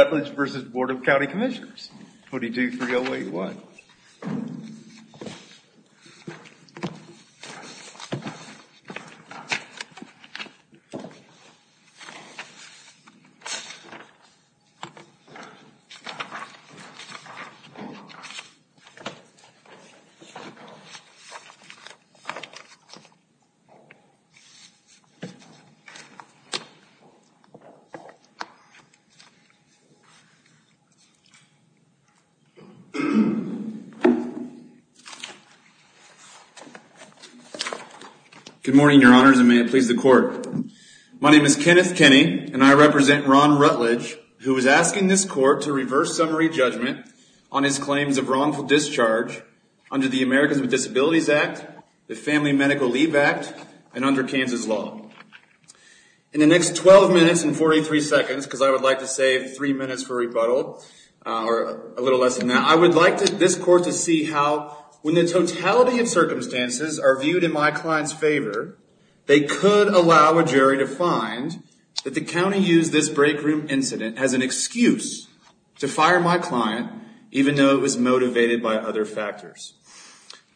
County Commissioners, 22-3-0-8-1. Good morning, Your Honors, and may it please the Court. My name is Kenneth Kenney, and I represent Ron Rutledge, who is asking this Court to reverse summary judgment on his claims of wrongful discharge under the Americans with Disabilities Act, the Family Medical Leave Act, and under Kansas law. In the next 12 minutes and 43 seconds, because I would like to save three minutes for rebuttal, or a little less than that, I would like this Court to see how, when the totality of circumstances are viewed in my client's favor, they could allow a jury to find that the county used this break room incident as an excuse to fire my client, even though it was motivated by other factors.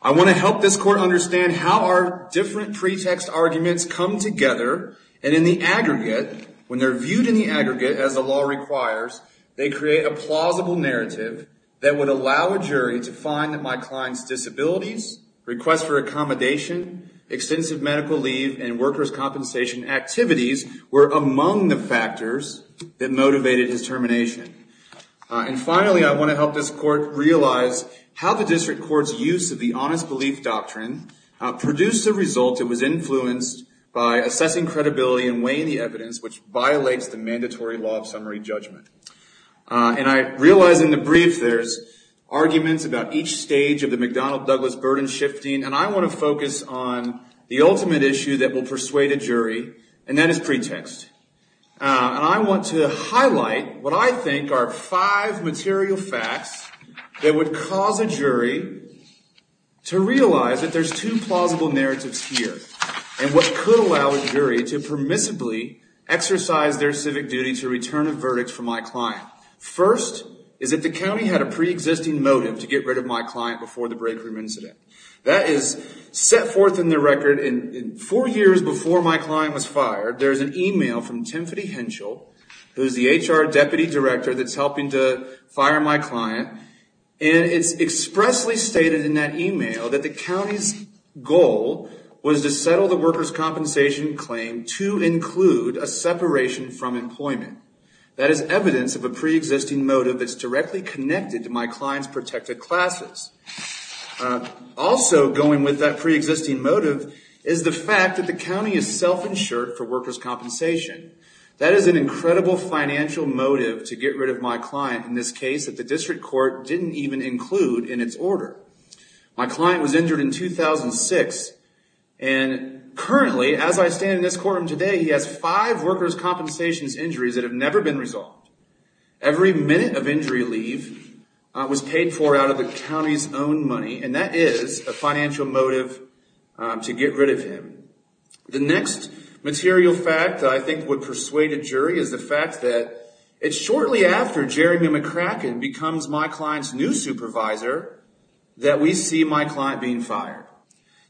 I want to help this Court understand how our different pretext arguments come together, and in the aggregate, when they're viewed in the aggregate, as the law requires, they create a plausible narrative that would allow a jury to find that my client's disabilities, requests for accommodation, extensive medical leave, and workers' compensation activities were among the factors that motivated his termination. And finally, I want to help this Court realize how the district court's use of the honest belief doctrine produced a result that was influenced by assessing credibility and weighing the evidence, which violates the mandatory law of summary judgment. And I realize in the brief there's arguments about each stage of the McDonnell-Douglas burden shifting, and I want to focus on the ultimate issue that will persuade a jury, and that is pretext. And I want to highlight what I think are five material facts that would cause a jury to realize that there's two plausible narratives here, and what could allow a jury to permissibly exercise their civic duty to return a verdict for my client. First is that the county had a preexisting motive to get rid of my client before the break room incident. That is set forth in the record, and four years before my client was fired, there's an email from Timothy Henschel, who's the HR deputy director that's helping to fire my client, and it's expressly stated in that email that the county's goal was to settle the workers' compensation claim to include a separation from employment. That is evidence of a preexisting motive that's directly connected to my client's protected classes. Also going with that preexisting motive is the fact that the county is self-insured for workers' compensation. That is an incredible financial motive to get rid of my client in this case that the district court didn't even include in its order. My client was injured in 2006, and currently, as I stand in this courtroom today, he has five workers' compensation injuries that have never been resolved. Every minute of injury leave was paid for out of the county's own money, and that is a financial motive to get rid of him. The next material fact that I think would persuade a jury is the fact that it's shortly after Jeremy McCracken becomes my client's new supervisor that we see my client being fired.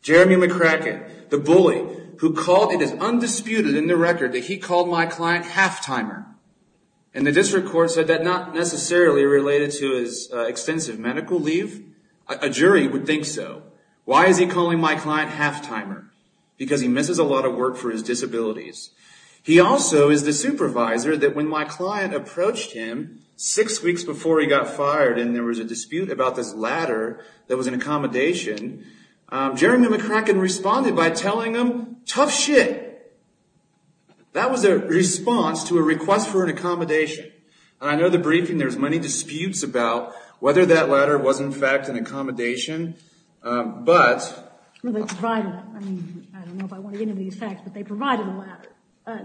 Jeremy McCracken, the bully who called, it is undisputed in the record, that he called my client half-timer, and the district court said that not necessarily related to his extensive medical leave. A jury would think so. Why is he calling my client half-timer? Because he misses a lot of work for his disabilities. He also is the supervisor that when my client approached him six weeks before he got fired and there was a dispute about this ladder that was an accommodation, Jeremy McCracken responded by telling him, tough shit. That was a response to a request for an accommodation. I know the briefing, there's many disputes about whether that ladder was, in fact, an accommodation. They provided it. I don't know if I want to get into these facts, but they provided a ladder.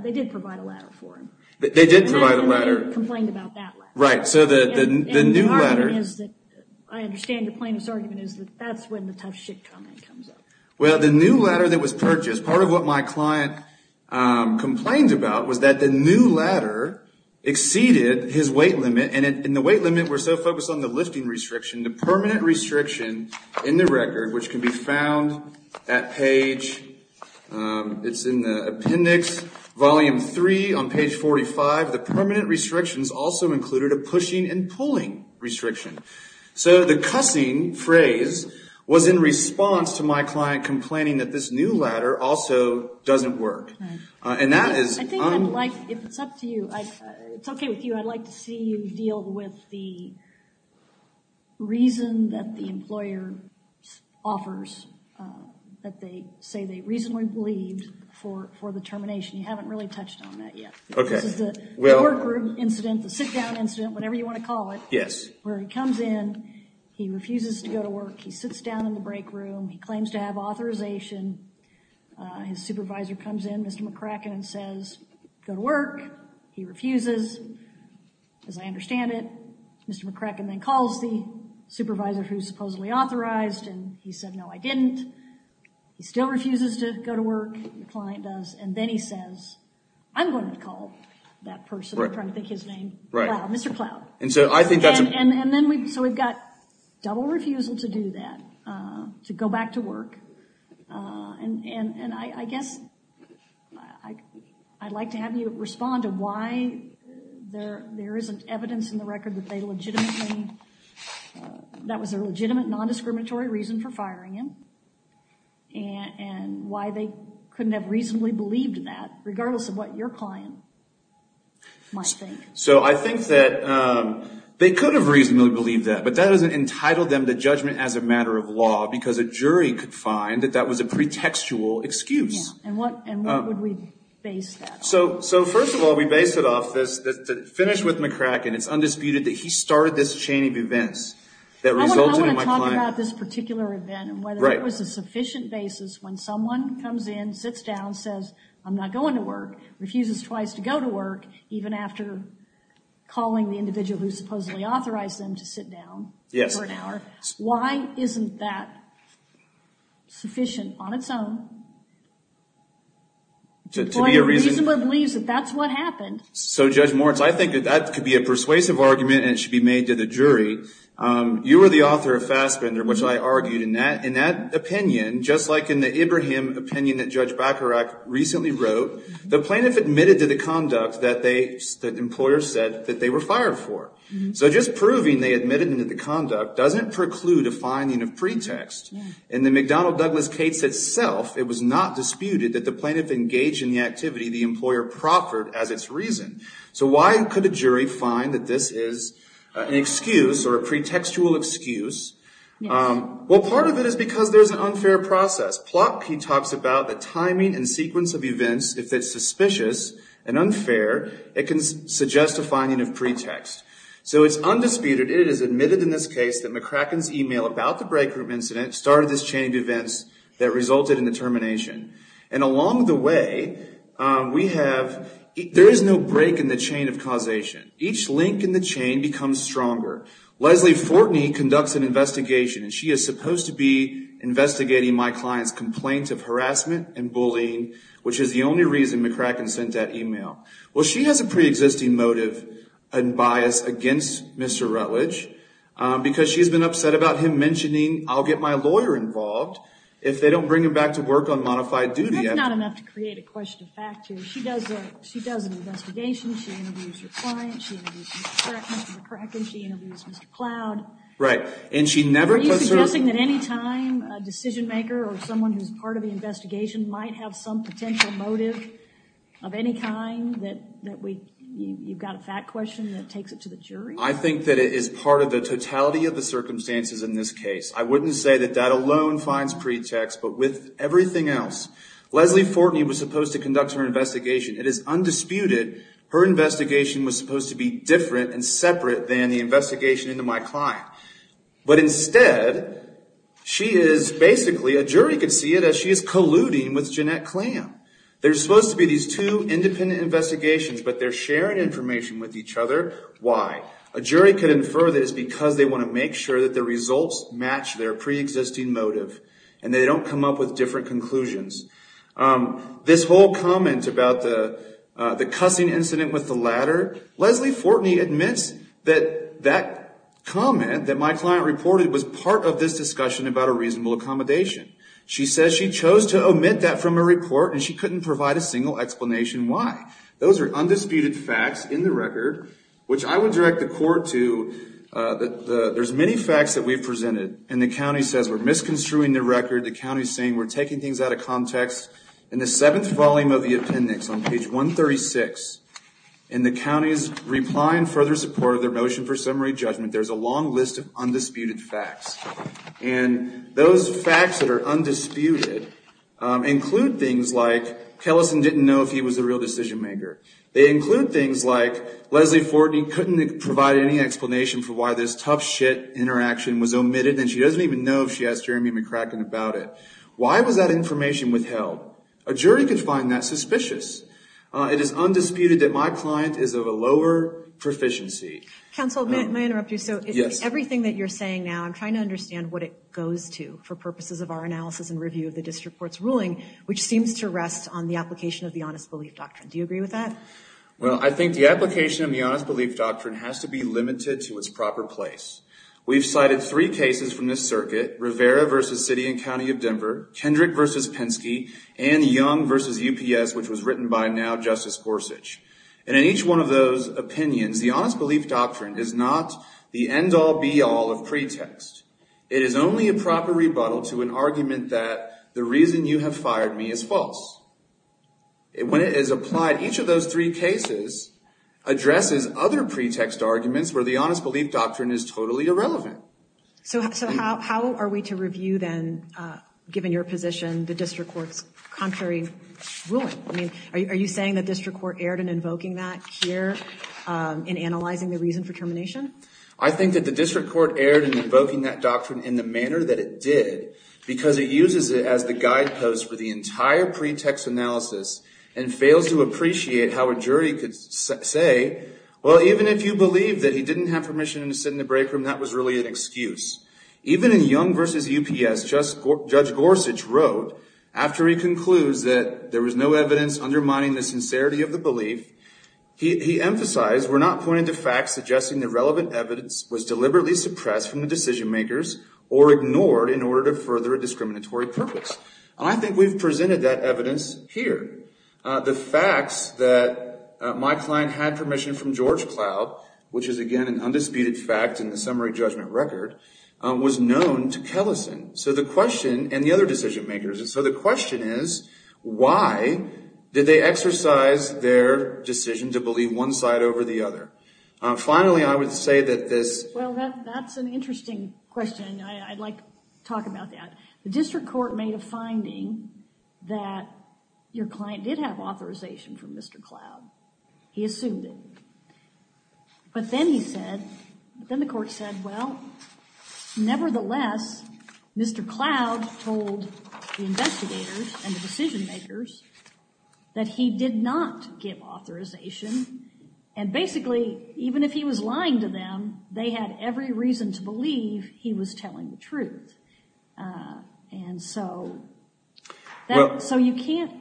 They did provide a ladder for him. They did provide a ladder. They complained about that ladder. Right. The new ladder. The argument is that, I understand the plaintiff's argument is that that's when the tough shit comment comes up. Well, the new ladder that was purchased, part of what my client complained about was that the new ladder exceeded his weight limit. The weight limit was so focused on the lifting restriction, the permanent restriction in the record, which can be found at page, it's in the appendix, volume three on page 45. The permanent restrictions also included a pushing and pulling restriction. So, the cussing phrase was in response to my client complaining that this new ladder also doesn't work. And that is- I think I'd like, if it's up to you, it's okay with you, I'd like to see you deal with the reason that the employer offers, that they say they reasonably believed for the termination. You haven't really touched on that yet. Okay. This is the workroom incident, the sit-down incident, whatever you want to call it. Yes. Where he comes in, he refuses to go to work. He sits down in the break room. He claims to have authorization. His supervisor comes in, Mr. McCracken, and says, go to work. He refuses. As I understand it, Mr. McCracken then calls the supervisor who supposedly authorized, and he said, no, I didn't. He still refuses to go to work. The client does. And then he says, I'm going to call that person. I'm trying to think of his name. Right. Mr. Cloud. And so, I think that's- And then, so we've got double refusal to do that, to go back to work. And I guess I'd like to have you respond to why there isn't evidence in the record that they legitimately, that was a legitimate non-discriminatory reason for firing him, and why they couldn't have reasonably believed that, regardless of what your client might think. So, I think that they could have reasonably believed that, but that doesn't entitle them to judgment as a matter of law, because a jury could find that that was a pretextual excuse. Yeah. And what would we base that on? So, first of all, we base it off this, to finish with McCracken, it's undisputed that he started this chain of events that resulted in my client- I want to talk about this particular event, and whether it was a sufficient basis when someone comes in, sits down, says, I'm not going to work, refuses twice to go to work, even after calling the individual who supposedly authorized them to sit down for an hour. Yes. Why isn't that sufficient on its own? To be a reason- The employer reasonably believes that that's what happened. So, Judge Moritz, I think that that could be a persuasive argument, and it should be made to the jury. You were the author of Fassbender, which I argued in that opinion, just like in the Ibrahim opinion that Judge Bacharach recently wrote. The plaintiff admitted to the conduct that the employer said that they were fired for. So, just proving they admitted to the conduct doesn't preclude a finding of pretext. In the McDonnell-Douglas case itself, it was not disputed that the plaintiff engaged in the activity the employer proffered as its reason. So, why could a jury find that this is an excuse, or a pretextual excuse? Well, part of it is because there's an unfair process. Plotkin talks about the timing and sequence of events. If it's suspicious and unfair, it can suggest a finding of pretext. So, it's undisputed. It is admitted in this case that McCracken's email about the break group incident started this chain of events that resulted in the termination. And along the way, we have- There is no break in the chain of causation. Each link in the chain becomes stronger. Leslie Fortney conducts an investigation, and she is supposed to be investigating my client's complaint of harassment and bullying, which is the only reason McCracken sent that email. Well, she has a preexisting motive and bias against Mr. Rutledge, because she's been upset about him mentioning, I'll get my lawyer involved if they don't bring him back to work on modified duty. That's not enough to create a question of fact here. She does an investigation. She interviews your client. She interviews Mr. McCracken. She interviews Mr. Cloud. Right. And she never puts her- Are you suggesting that any time a decision maker or someone who's part of the investigation might have some potential motive of any kind that you've got a fact question that takes it to the jury? I think that it is part of the totality of the circumstances in this case. I wouldn't say that that alone finds pretext. But with everything else, Leslie Fortney was supposed to conduct her investigation. It is undisputed her investigation was supposed to be different and separate than the investigation into my client. But instead, she is basically, a jury could see it as she is colluding with Jeanette Clam. There's supposed to be these two independent investigations, but they're sharing information with each other. Why? A jury could infer that it's because they want to make sure that the results match their preexisting motive and they don't come up with different conclusions. This whole comment about the cussing incident with the ladder, Leslie Fortney admits that that comment that my client reported was part of this discussion about a reasonable accommodation. She says she chose to omit that from her report and she couldn't provide a single explanation why. Those are undisputed facts in the record, which I would direct the court to. There's many facts that we've presented and the county says we're misconstruing the record. The county is saying we're taking things out of context. In the seventh volume of the appendix on page 136, in the county's reply and further support of their motion for summary judgment, there's a long list of undisputed facts. And those facts that are undisputed include things like, Kellison didn't know if he was the real decision maker. They include things like, Leslie Fortney couldn't provide any explanation for why this tough shit interaction was omitted and she doesn't even know if she has Jeremy McCracken about it. Why was that information withheld? A jury could find that suspicious. It is undisputed that my client is of a lower proficiency. Counsel, may I interrupt you? Yes. Everything that you're saying now, I'm trying to understand what it goes to for purposes of our analysis and review of the district court's ruling, which seems to rest on the application of the honest belief doctrine. Do you agree with that? Well, I think the application of the honest belief doctrine has to be limited to its proper place. We've cited three cases from this circuit, Rivera v. City and County of Denver, Kendrick v. Penske, and Young v. UPS, which was written by now Justice Gorsuch. And in each one of those opinions, the honest belief doctrine is not the end-all, be-all of pretext. It is only a proper rebuttal to an argument that the reason you have fired me is false. When it is applied, each of those three cases addresses other pretext arguments where the honest belief doctrine is totally irrelevant. So how are we to review then, given your position, the district court's contrary ruling? Are you saying the district court erred in invoking that here in analyzing the reason for termination? I think that the district court erred in invoking that doctrine in the manner that it did because it uses it as the guidepost for the entire pretext analysis and fails to appreciate how a jury could say, well, even if you believe that he didn't have permission to sit in the break room, that was really an excuse. Even in Young v. UPS, Judge Gorsuch wrote, after he concludes that there was no evidence undermining the sincerity of the belief, he emphasized we're not pointing to facts suggesting the relevant evidence was deliberately suppressed from the decision makers or ignored in order to further a discriminatory purpose. I think we've presented that evidence here. The facts that my client had permission from George Cloud, which is again an undisputed fact in the summary judgment record, was known to Kellison and the other decision makers. So the question is, why did they exercise their decision to believe one side over the other? Finally, I would say that this... Well, that's an interesting question. I'd like to talk about that. The district court made a finding that your client did have authorization from Mr. Cloud. He assumed it. But then he said, then the court said, well, nevertheless, Mr. Cloud told the investigators and the decision makers that he did not give authorization and basically, even if he was lying to them, they had every reason to believe he was telling the truth. And so you can't...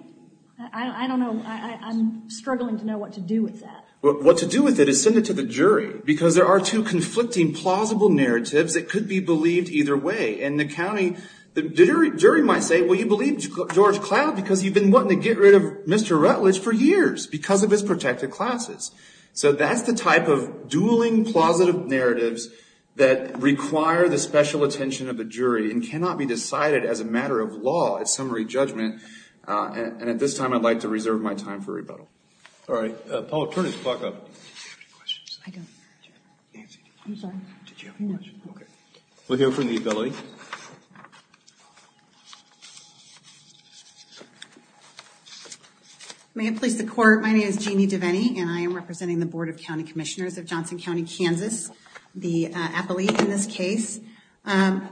I don't know. I'm struggling to know what to do with that. Well, what to do with it is send it to the jury because there are two conflicting plausible narratives that could be believed either way. And the jury might say, well, you believe George Cloud because you've been wanting to get rid of Mr. Rutledge for years because of his protected classes. So that's the type of dueling, plausible narratives that require the special attention of the jury and cannot be decided as a matter of law, a summary judgment. And at this time, I'd like to reserve my time for rebuttal. All right. Paula, turn the clock up. Do you have any questions? I don't. Nancy? I'm sorry. Did you have any questions? Okay. We'll hear from the ability. May it please the court. My name is Jeanne Devaney, and I am representing the Board of County Commissioners of Johnson County, Kansas, the appellee in this case. I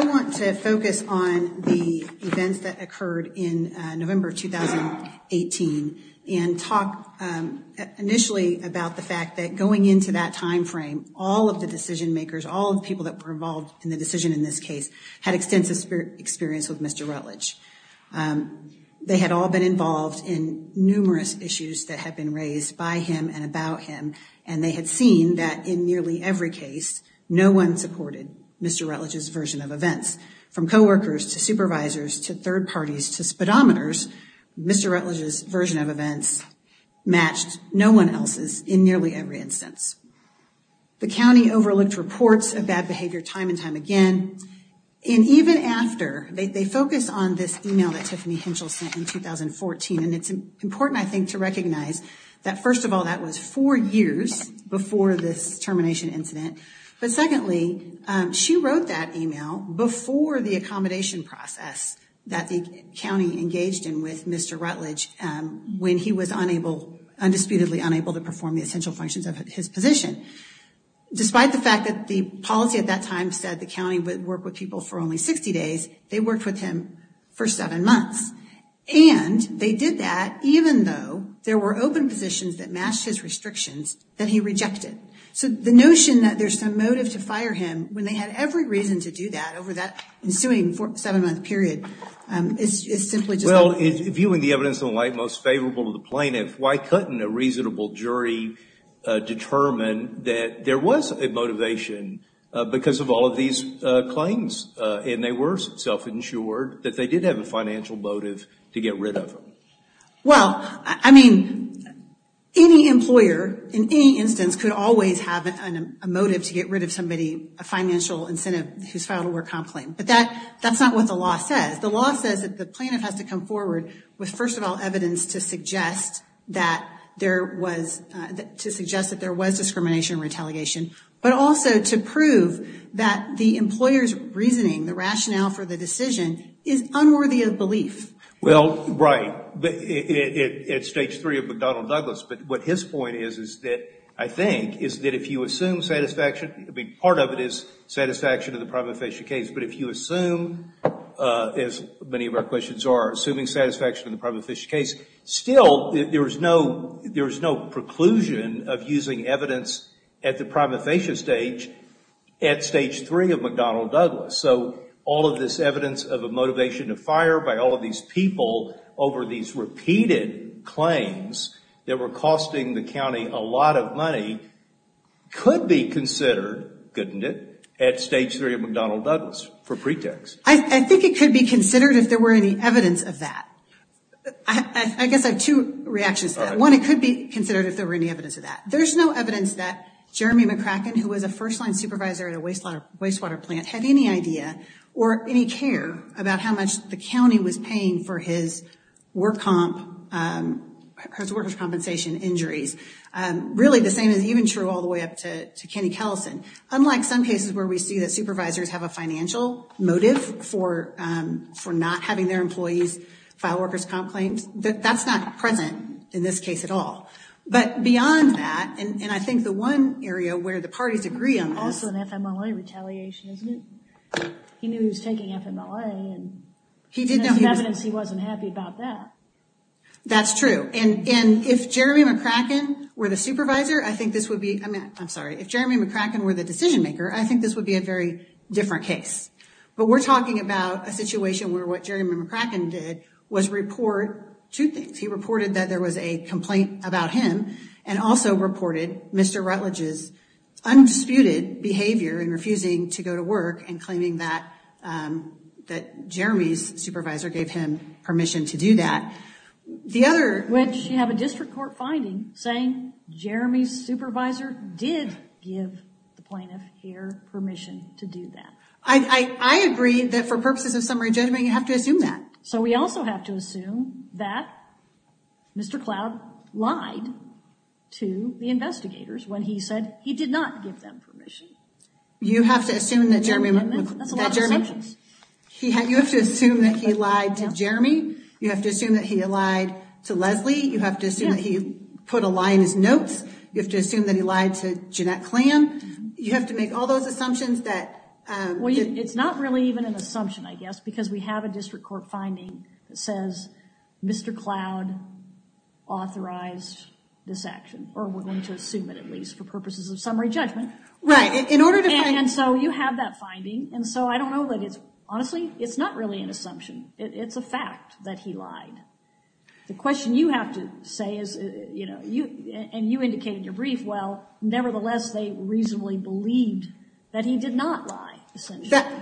want to focus on the events that occurred in November 2018 and talk initially about the fact that going into that timeframe, all of the decision makers, all of the people that were involved in the decision in this case, had extensive experience with Mr. Rutledge. They had all been involved in numerous issues that had been raised by him and about him, and they had seen that in nearly every case, no one supported Mr. Rutledge's version of events. From coworkers to supervisors to third parties to speedometers, Mr. Rutledge's version of events matched no one else's in nearly every instance. The county overlooked reports of bad behavior time and time again. And even after, they focus on this email that Tiffany Henschel sent in 2014, and it's important, I think, to recognize that, first of all, that was four years before this termination incident. But secondly, she wrote that email before the accommodation process that the county engaged in with Mr. Rutledge when he was undisputedly unable to perform the essential functions of his position. Despite the fact that the policy at that time said the county would work with people for only 60 days, they worked with him for seven months. And they did that even though there were open positions that matched his restrictions that he rejected. So the notion that there's some motive to fire him, when they had every reason to do that over that ensuing seven-month period, is simply just not the case. Well, viewing the evidence in the light most favorable to the plaintiff, why couldn't a reasonable jury determine that there was a motivation because of all of these claims? And they were self-insured that they did have a financial motive to get rid of him. Well, I mean, any employer in any instance could always have a motive to get rid of somebody, a financial incentive, who's filed a work comp claim. But that's not what the law says. The law says that the plaintiff has to come forward with, first of all, evidence to suggest that there was discrimination and retaliation, but also to prove that the employer's reasoning, the rationale for the decision, is unworthy of belief. Well, right. It's stage three of McDonnell-Douglas. But what his point is, I think, is that if you assume satisfaction, I mean, part of it is satisfaction of the prima facie case. But if you assume, as many of our questions are, assuming satisfaction in the prima facie case, still there is no preclusion of using evidence at the prima facie stage at stage three of McDonnell-Douglas. So all of this evidence of a motivation to fire by all of these people over these repeated claims that were costing the county a lot of money could be considered, couldn't it, at stage three of McDonnell-Douglas for pretext. I think it could be considered if there were any evidence of that. I guess I have two reactions to that. One, it could be considered if there were any evidence of that. There's no evidence that Jeremy McCracken, who was a first-line supervisor at a wastewater plant, had any idea or any care about how much the county was paying for his workers' compensation injuries. Really, the same is even true all the way up to Kenny Kellison. Unlike some cases where we see that supervisors have a financial motive for not having their employees file workers' comp claims, that's not present in this case at all. But beyond that, and I think the one area where the parties agree on this— Also an FMLA retaliation, isn't it? He knew he was taking FMLA, and there's evidence he wasn't happy about that. That's true. And if Jeremy McCracken were the supervisor, I think this would be—I'm sorry. If Jeremy McCracken were the decision-maker, I think this would be a very different case. But we're talking about a situation where what Jeremy McCracken did was report two things. He reported that there was a complaint about him and also reported Mr. Rutledge's undisputed behavior in refusing to go to work and claiming that Jeremy's supervisor gave him permission to do that. Which you have a district court finding saying Jeremy's supervisor did give the plaintiff here permission to do that. I agree that for purposes of summary judgment, you have to assume that. So we also have to assume that Mr. Cloud lied to the investigators when he said he did not give them permission. You have to assume that Jeremy— That's a lot of assumptions. You have to assume that he lied to Jeremy. You have to assume that he lied to Leslie. You have to assume that he put a lie in his notes. You have to assume that he lied to Jeanette Clam. You have to make all those assumptions that— Well, it's not really even an assumption, I guess, because we have a district court finding that says Mr. Cloud authorized this action. Or we're going to assume it, at least, for purposes of summary judgment. Right. In order to— And so you have that finding. And so I don't know that it's—honestly, it's not really an assumption. It's a fact that he lied. The question you have to say is, you know, and you indicated in your brief, well, nevertheless, they reasonably believed that he did not lie.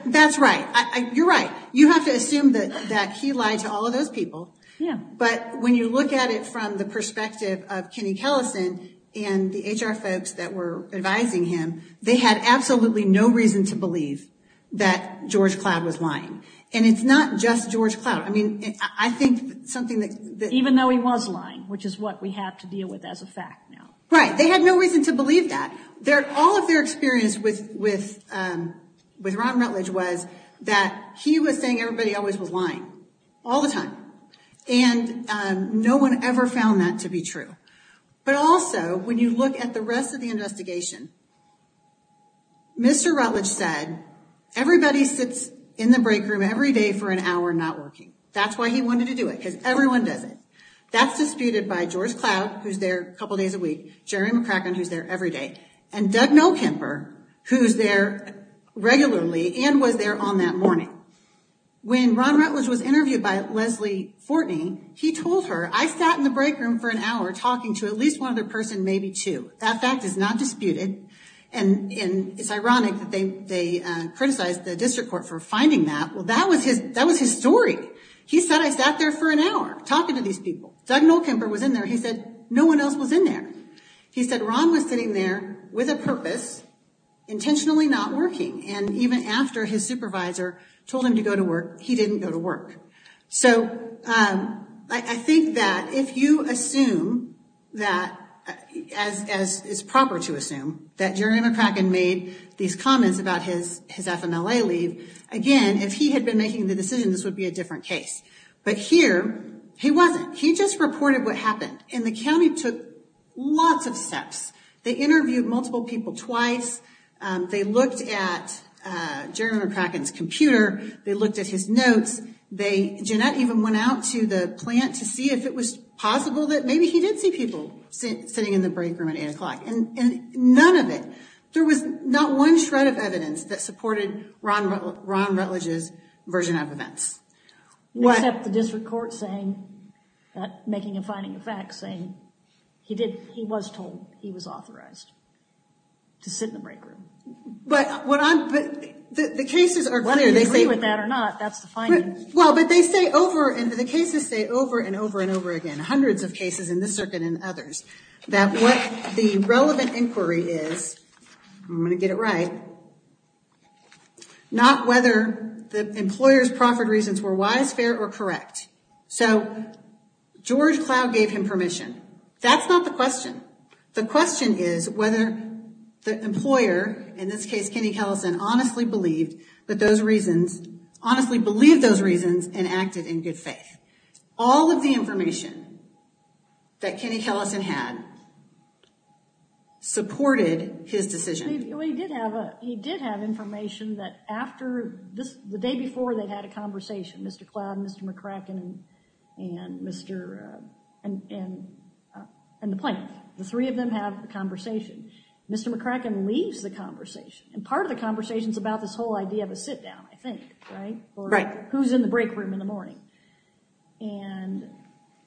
That's right. You're right. You have to assume that he lied to all of those people. Yeah. But when you look at it from the perspective of Kenny Kellison and the HR folks that were advising him, they had absolutely no reason to believe that George Cloud was lying. And it's not just George Cloud. I mean, I think something that— Even though he was lying, which is what we have to deal with as a fact now. Right. They had no reason to believe that. All of their experience with Ron Rutledge was that he was saying everybody always was lying. All the time. And no one ever found that to be true. But also, when you look at the rest of the investigation, Mr. Rutledge said, everybody sits in the break room every day for an hour not working. That's why he wanted to do it, because everyone does it. That's disputed by George Cloud, who's there a couple days a week, Jerry McCracken, who's there every day, and Doug Nolkemper, who's there regularly and was there on that morning. When Ron Rutledge was interviewed by Leslie Fortney, he told her, I sat in the break room for an hour talking to at least one other person, maybe two. That fact is not disputed. And it's ironic that they criticized the district court for finding that. Well, that was his story. He said, I sat there for an hour talking to these people. Doug Nolkemper was in there. He said no one else was in there. He said Ron was sitting there with a purpose, intentionally not working, and even after his supervisor told him to go to work, he didn't go to work. So I think that if you assume that, as is proper to assume, that Jerry McCracken made these comments about his FMLA leave, again, if he had been making the decision, this would be a different case. But here, he wasn't. He just reported what happened. And the county took lots of steps. They interviewed multiple people twice. They looked at Jerry McCracken's computer. They looked at his notes. Jeanette even went out to the plant to see if it was possible that maybe he did see people sitting in the break room at 8 o'clock. And none of it. There was not one shred of evidence that supported Ron Rutledge's version of events. Except the district court saying, making a finding of facts, saying he did, he was told he was authorized to sit in the break room. But the cases are clear. Whether you agree with that or not, that's the finding. Well, but they say over, and the cases say over and over and over again, hundreds of cases in this circuit and others, that what the relevant inquiry is, I'm going to get it right, not whether the employer's proffered reasons were wise, fair, or correct. So George Cloud gave him permission. That's not the question. The question is whether the employer, in this case, Kenny Kellison, honestly believed that those reasons, honestly believed those reasons and acted in good faith. All of the information that Kenny Kellison had supported his decision. Well, he did have information that after, the day before they'd had a conversation, Mr. Cloud and Mr. McCracken and the plaintiff, the three of them have a conversation. Mr. McCracken leaves the conversation, and part of the conversation's about this whole idea of a sit down, I think, right? Right. Who's in the break room in the morning? And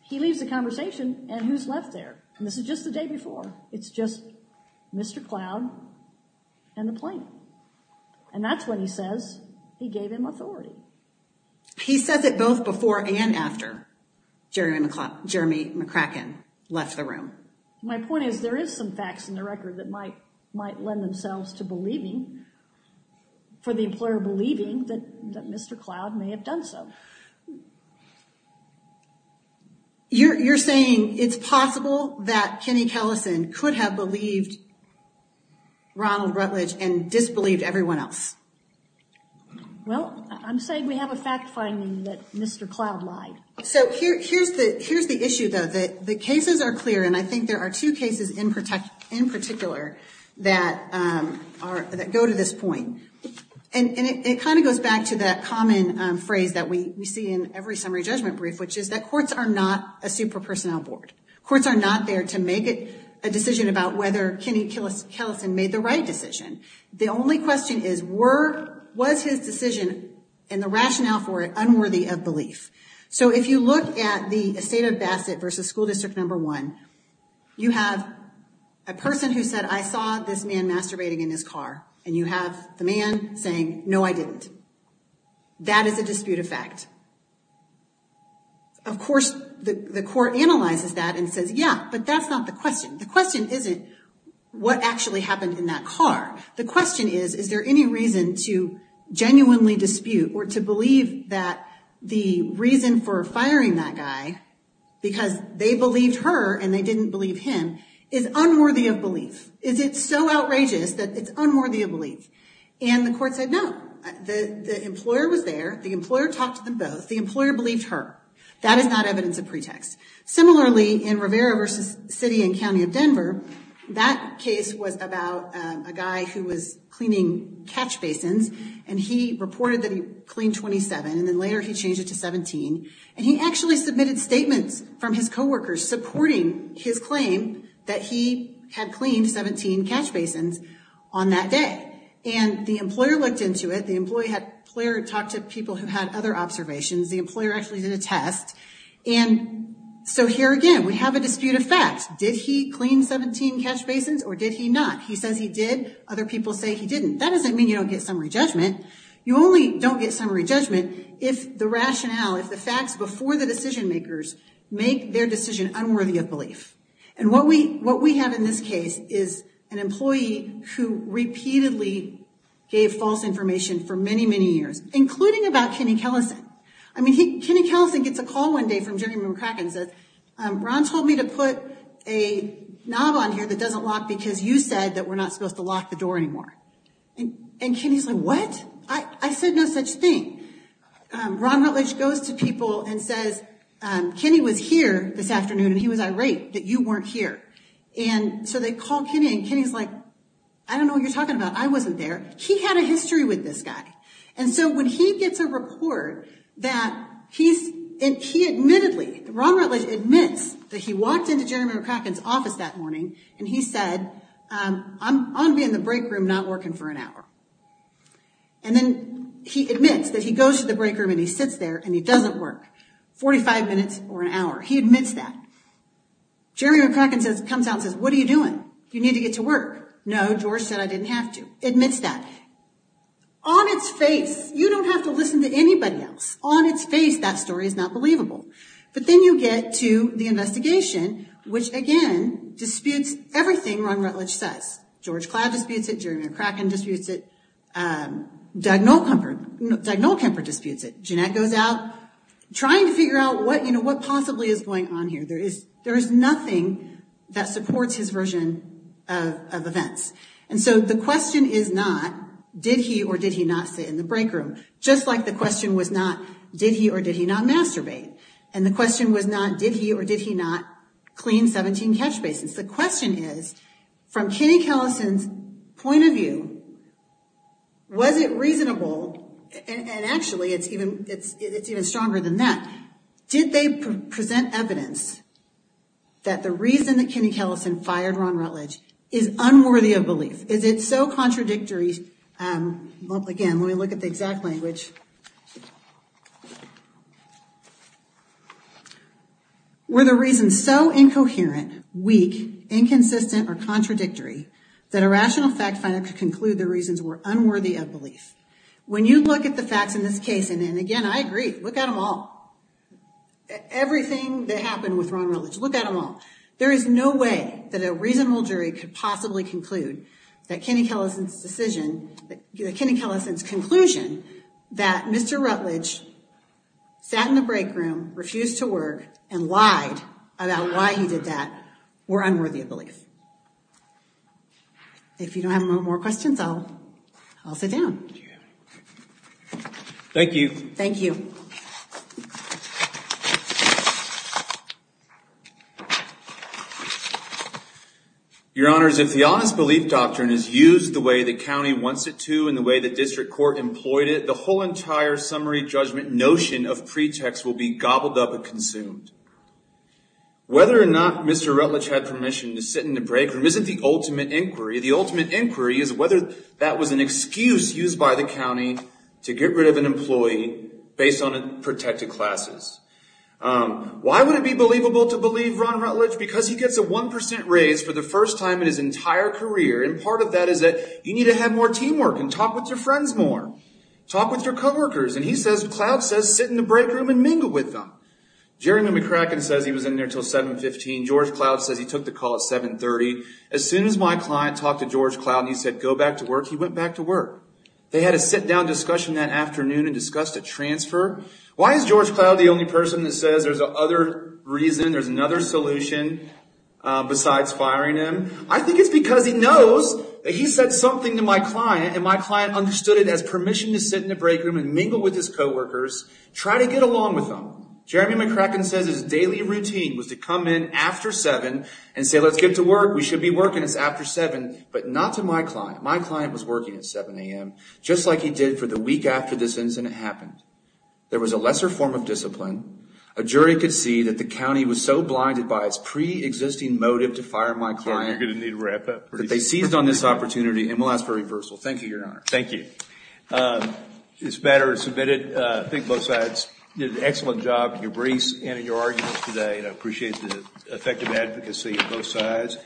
he leaves the conversation, and who's left there? And this is just the day before. It's just Mr. Cloud and the plaintiff. And that's when he says he gave him authority. He says it both before and after Jeremy McCracken left the room. My point is there is some facts in the record that might lend themselves to believing, for the employer believing, that Mr. Cloud may have done so. You're saying it's possible that Kenny Kellison could have believed Ronald Rutledge and disbelieved everyone else? Well, I'm saying we have a fact finding that Mr. Cloud lied. So here's the issue, though, that the cases are clear, and I think there are two cases in particular that go to this point. And it kind of goes back to that common phrase that we see in every summary judgment brief, which is that courts are not a super personnel board. Courts are not there to make a decision about whether Kenny Kellison made the right decision. The only question is, was his decision and the rationale for it unworthy of belief? So if you look at the estate of Bassett versus school district number one, you have a person who said, I saw this man masturbating in his car. And you have the man saying, no, I didn't. That is a dispute of fact. Of course, the court analyzes that and says, yeah, but that's not the question. The question isn't what actually happened in that car. The question is, is there any reason to genuinely dispute or to believe that the reason for firing that guy, because they believed her and they didn't believe him, is unworthy of belief? Is it so outrageous that it's unworthy of belief? And the court said, no. The employer was there. The employer talked to them both. The employer believed her. That is not evidence of pretext. Similarly, in Rivera versus city and county of Denver, that case was about a guy who was cleaning catch basins. And he reported that he cleaned 27. And then later he changed it to 17. And he actually submitted statements from his coworkers supporting his claim that he had cleaned 17 catch basins on that day. And the employer looked into it. The employer talked to people who had other observations. The employer actually did a test. And so here again, we have a dispute of facts. Did he clean 17 catch basins or did he not? He says he did. Other people say he didn't. That doesn't mean you don't get summary judgment. You only don't get summary judgment if the rationale, if the facts before the decision makers make their decision unworthy of belief. And what we have in this case is an employee who repeatedly gave false information for many, many years, including about Kenny Kellison. I mean, Kenny Kellison gets a call one day from Jerry McCracken and says, Ron told me to put a knob on here that doesn't lock because you said that we're not supposed to lock the door anymore. And Kenny's like, what? I said no such thing. Ron Rutledge goes to people and says, Kenny was here this afternoon and he was irate that you weren't here. And so they call Kenny and Kenny's like, I don't know what you're talking about. I wasn't there. He had a history with this guy. And so when he gets a report that he admittedly, Ron Rutledge admits that he walked into Jerry McCracken's office that morning and he said, I'm going to be in the break room not working for an hour. And then he admits that he goes to the break room and he sits there and he doesn't work 45 minutes or an hour. He admits that. Jerry McCracken comes out and says, what are you doing? You need to get to work. No, George said I didn't have to. Admits that. On its face, you don't have to listen to anybody else. On its face, that story is not believable. But then you get to the investigation, which, again, disputes everything Ron Rutledge says. George Cloud disputes it. Jerry McCracken disputes it. Doug Nolkemper disputes it. Jeanette goes out trying to figure out what possibly is going on here. There is nothing that supports his version of events. And so the question is not, did he or did he not sit in the break room? Just like the question was not, did he or did he not masturbate? And the question was not, did he or did he not clean 17 catch basins? The question is, from Kenny Kellison's point of view, was it reasonable, and actually it's even stronger than that, did they present evidence that the reason that Kenny Kellison fired Ron Rutledge is unworthy of belief? Is it so contradictory? Again, let me look at the exact language. Were the reasons so incoherent, weak, inconsistent, or contradictory that a rational fact finder could conclude the reasons were unworthy of belief? When you look at the facts in this case, and again, I agree, look at them all. Everything that happened with Ron Rutledge, look at them all. There is no way that a reasonable jury could possibly conclude that Kenny Kellison's conclusion that Mr. Rutledge sat in the break room, refused to work, and lied about why he did that were unworthy of belief. If you don't have more questions, I'll sit down. Thank you. Thank you. Your Honors, if the Honest Belief Doctrine is used the way the county wants it to and the way the district court employed it, the whole entire summary judgment notion of pretext will be gobbled up and consumed. Whether or not Mr. Rutledge had permission to sit in the break room isn't the ultimate inquiry. The ultimate inquiry is whether that was an excuse used by the county to get rid of an employee based on protected classes. Why would it be believable to believe Ron Rutledge? Because he gets a one percent raise for the first time in his entire career, and part of that is that you need to have more teamwork and talk with your friends more. Talk with your co-workers. And he says, Cloud says, sit in the break room and mingle with them. Jeremy McCracken says he was in there until 7.15. George Cloud says he took the call at 7.30. As soon as my client talked to George Cloud and he said, go back to work, he went back to work. They had a sit-down discussion that afternoon and discussed a transfer. Why is George Cloud the only person that says there's another reason, there's another solution besides firing him? I think it's because he knows that he said something to my client, and my client understood it as permission to sit in the break room and mingle with his co-workers, try to get along with them. Jeremy McCracken says his daily routine was to come in after 7 and say, let's get to work. We should be working. It's after 7. But not to my client. My client was working at 7 a.m., just like he did for the week after this incident happened. There was a lesser form of discipline. A jury could see that the county was so blinded by its pre-existing motive to fire my client that they seized on this opportunity. And we'll ask for a reversal. Thank you, Your Honor. Thank you. This matter is submitted. I think both sides did an excellent job in your briefs and in your arguments today, and I appreciate the effective advocacy of both sides.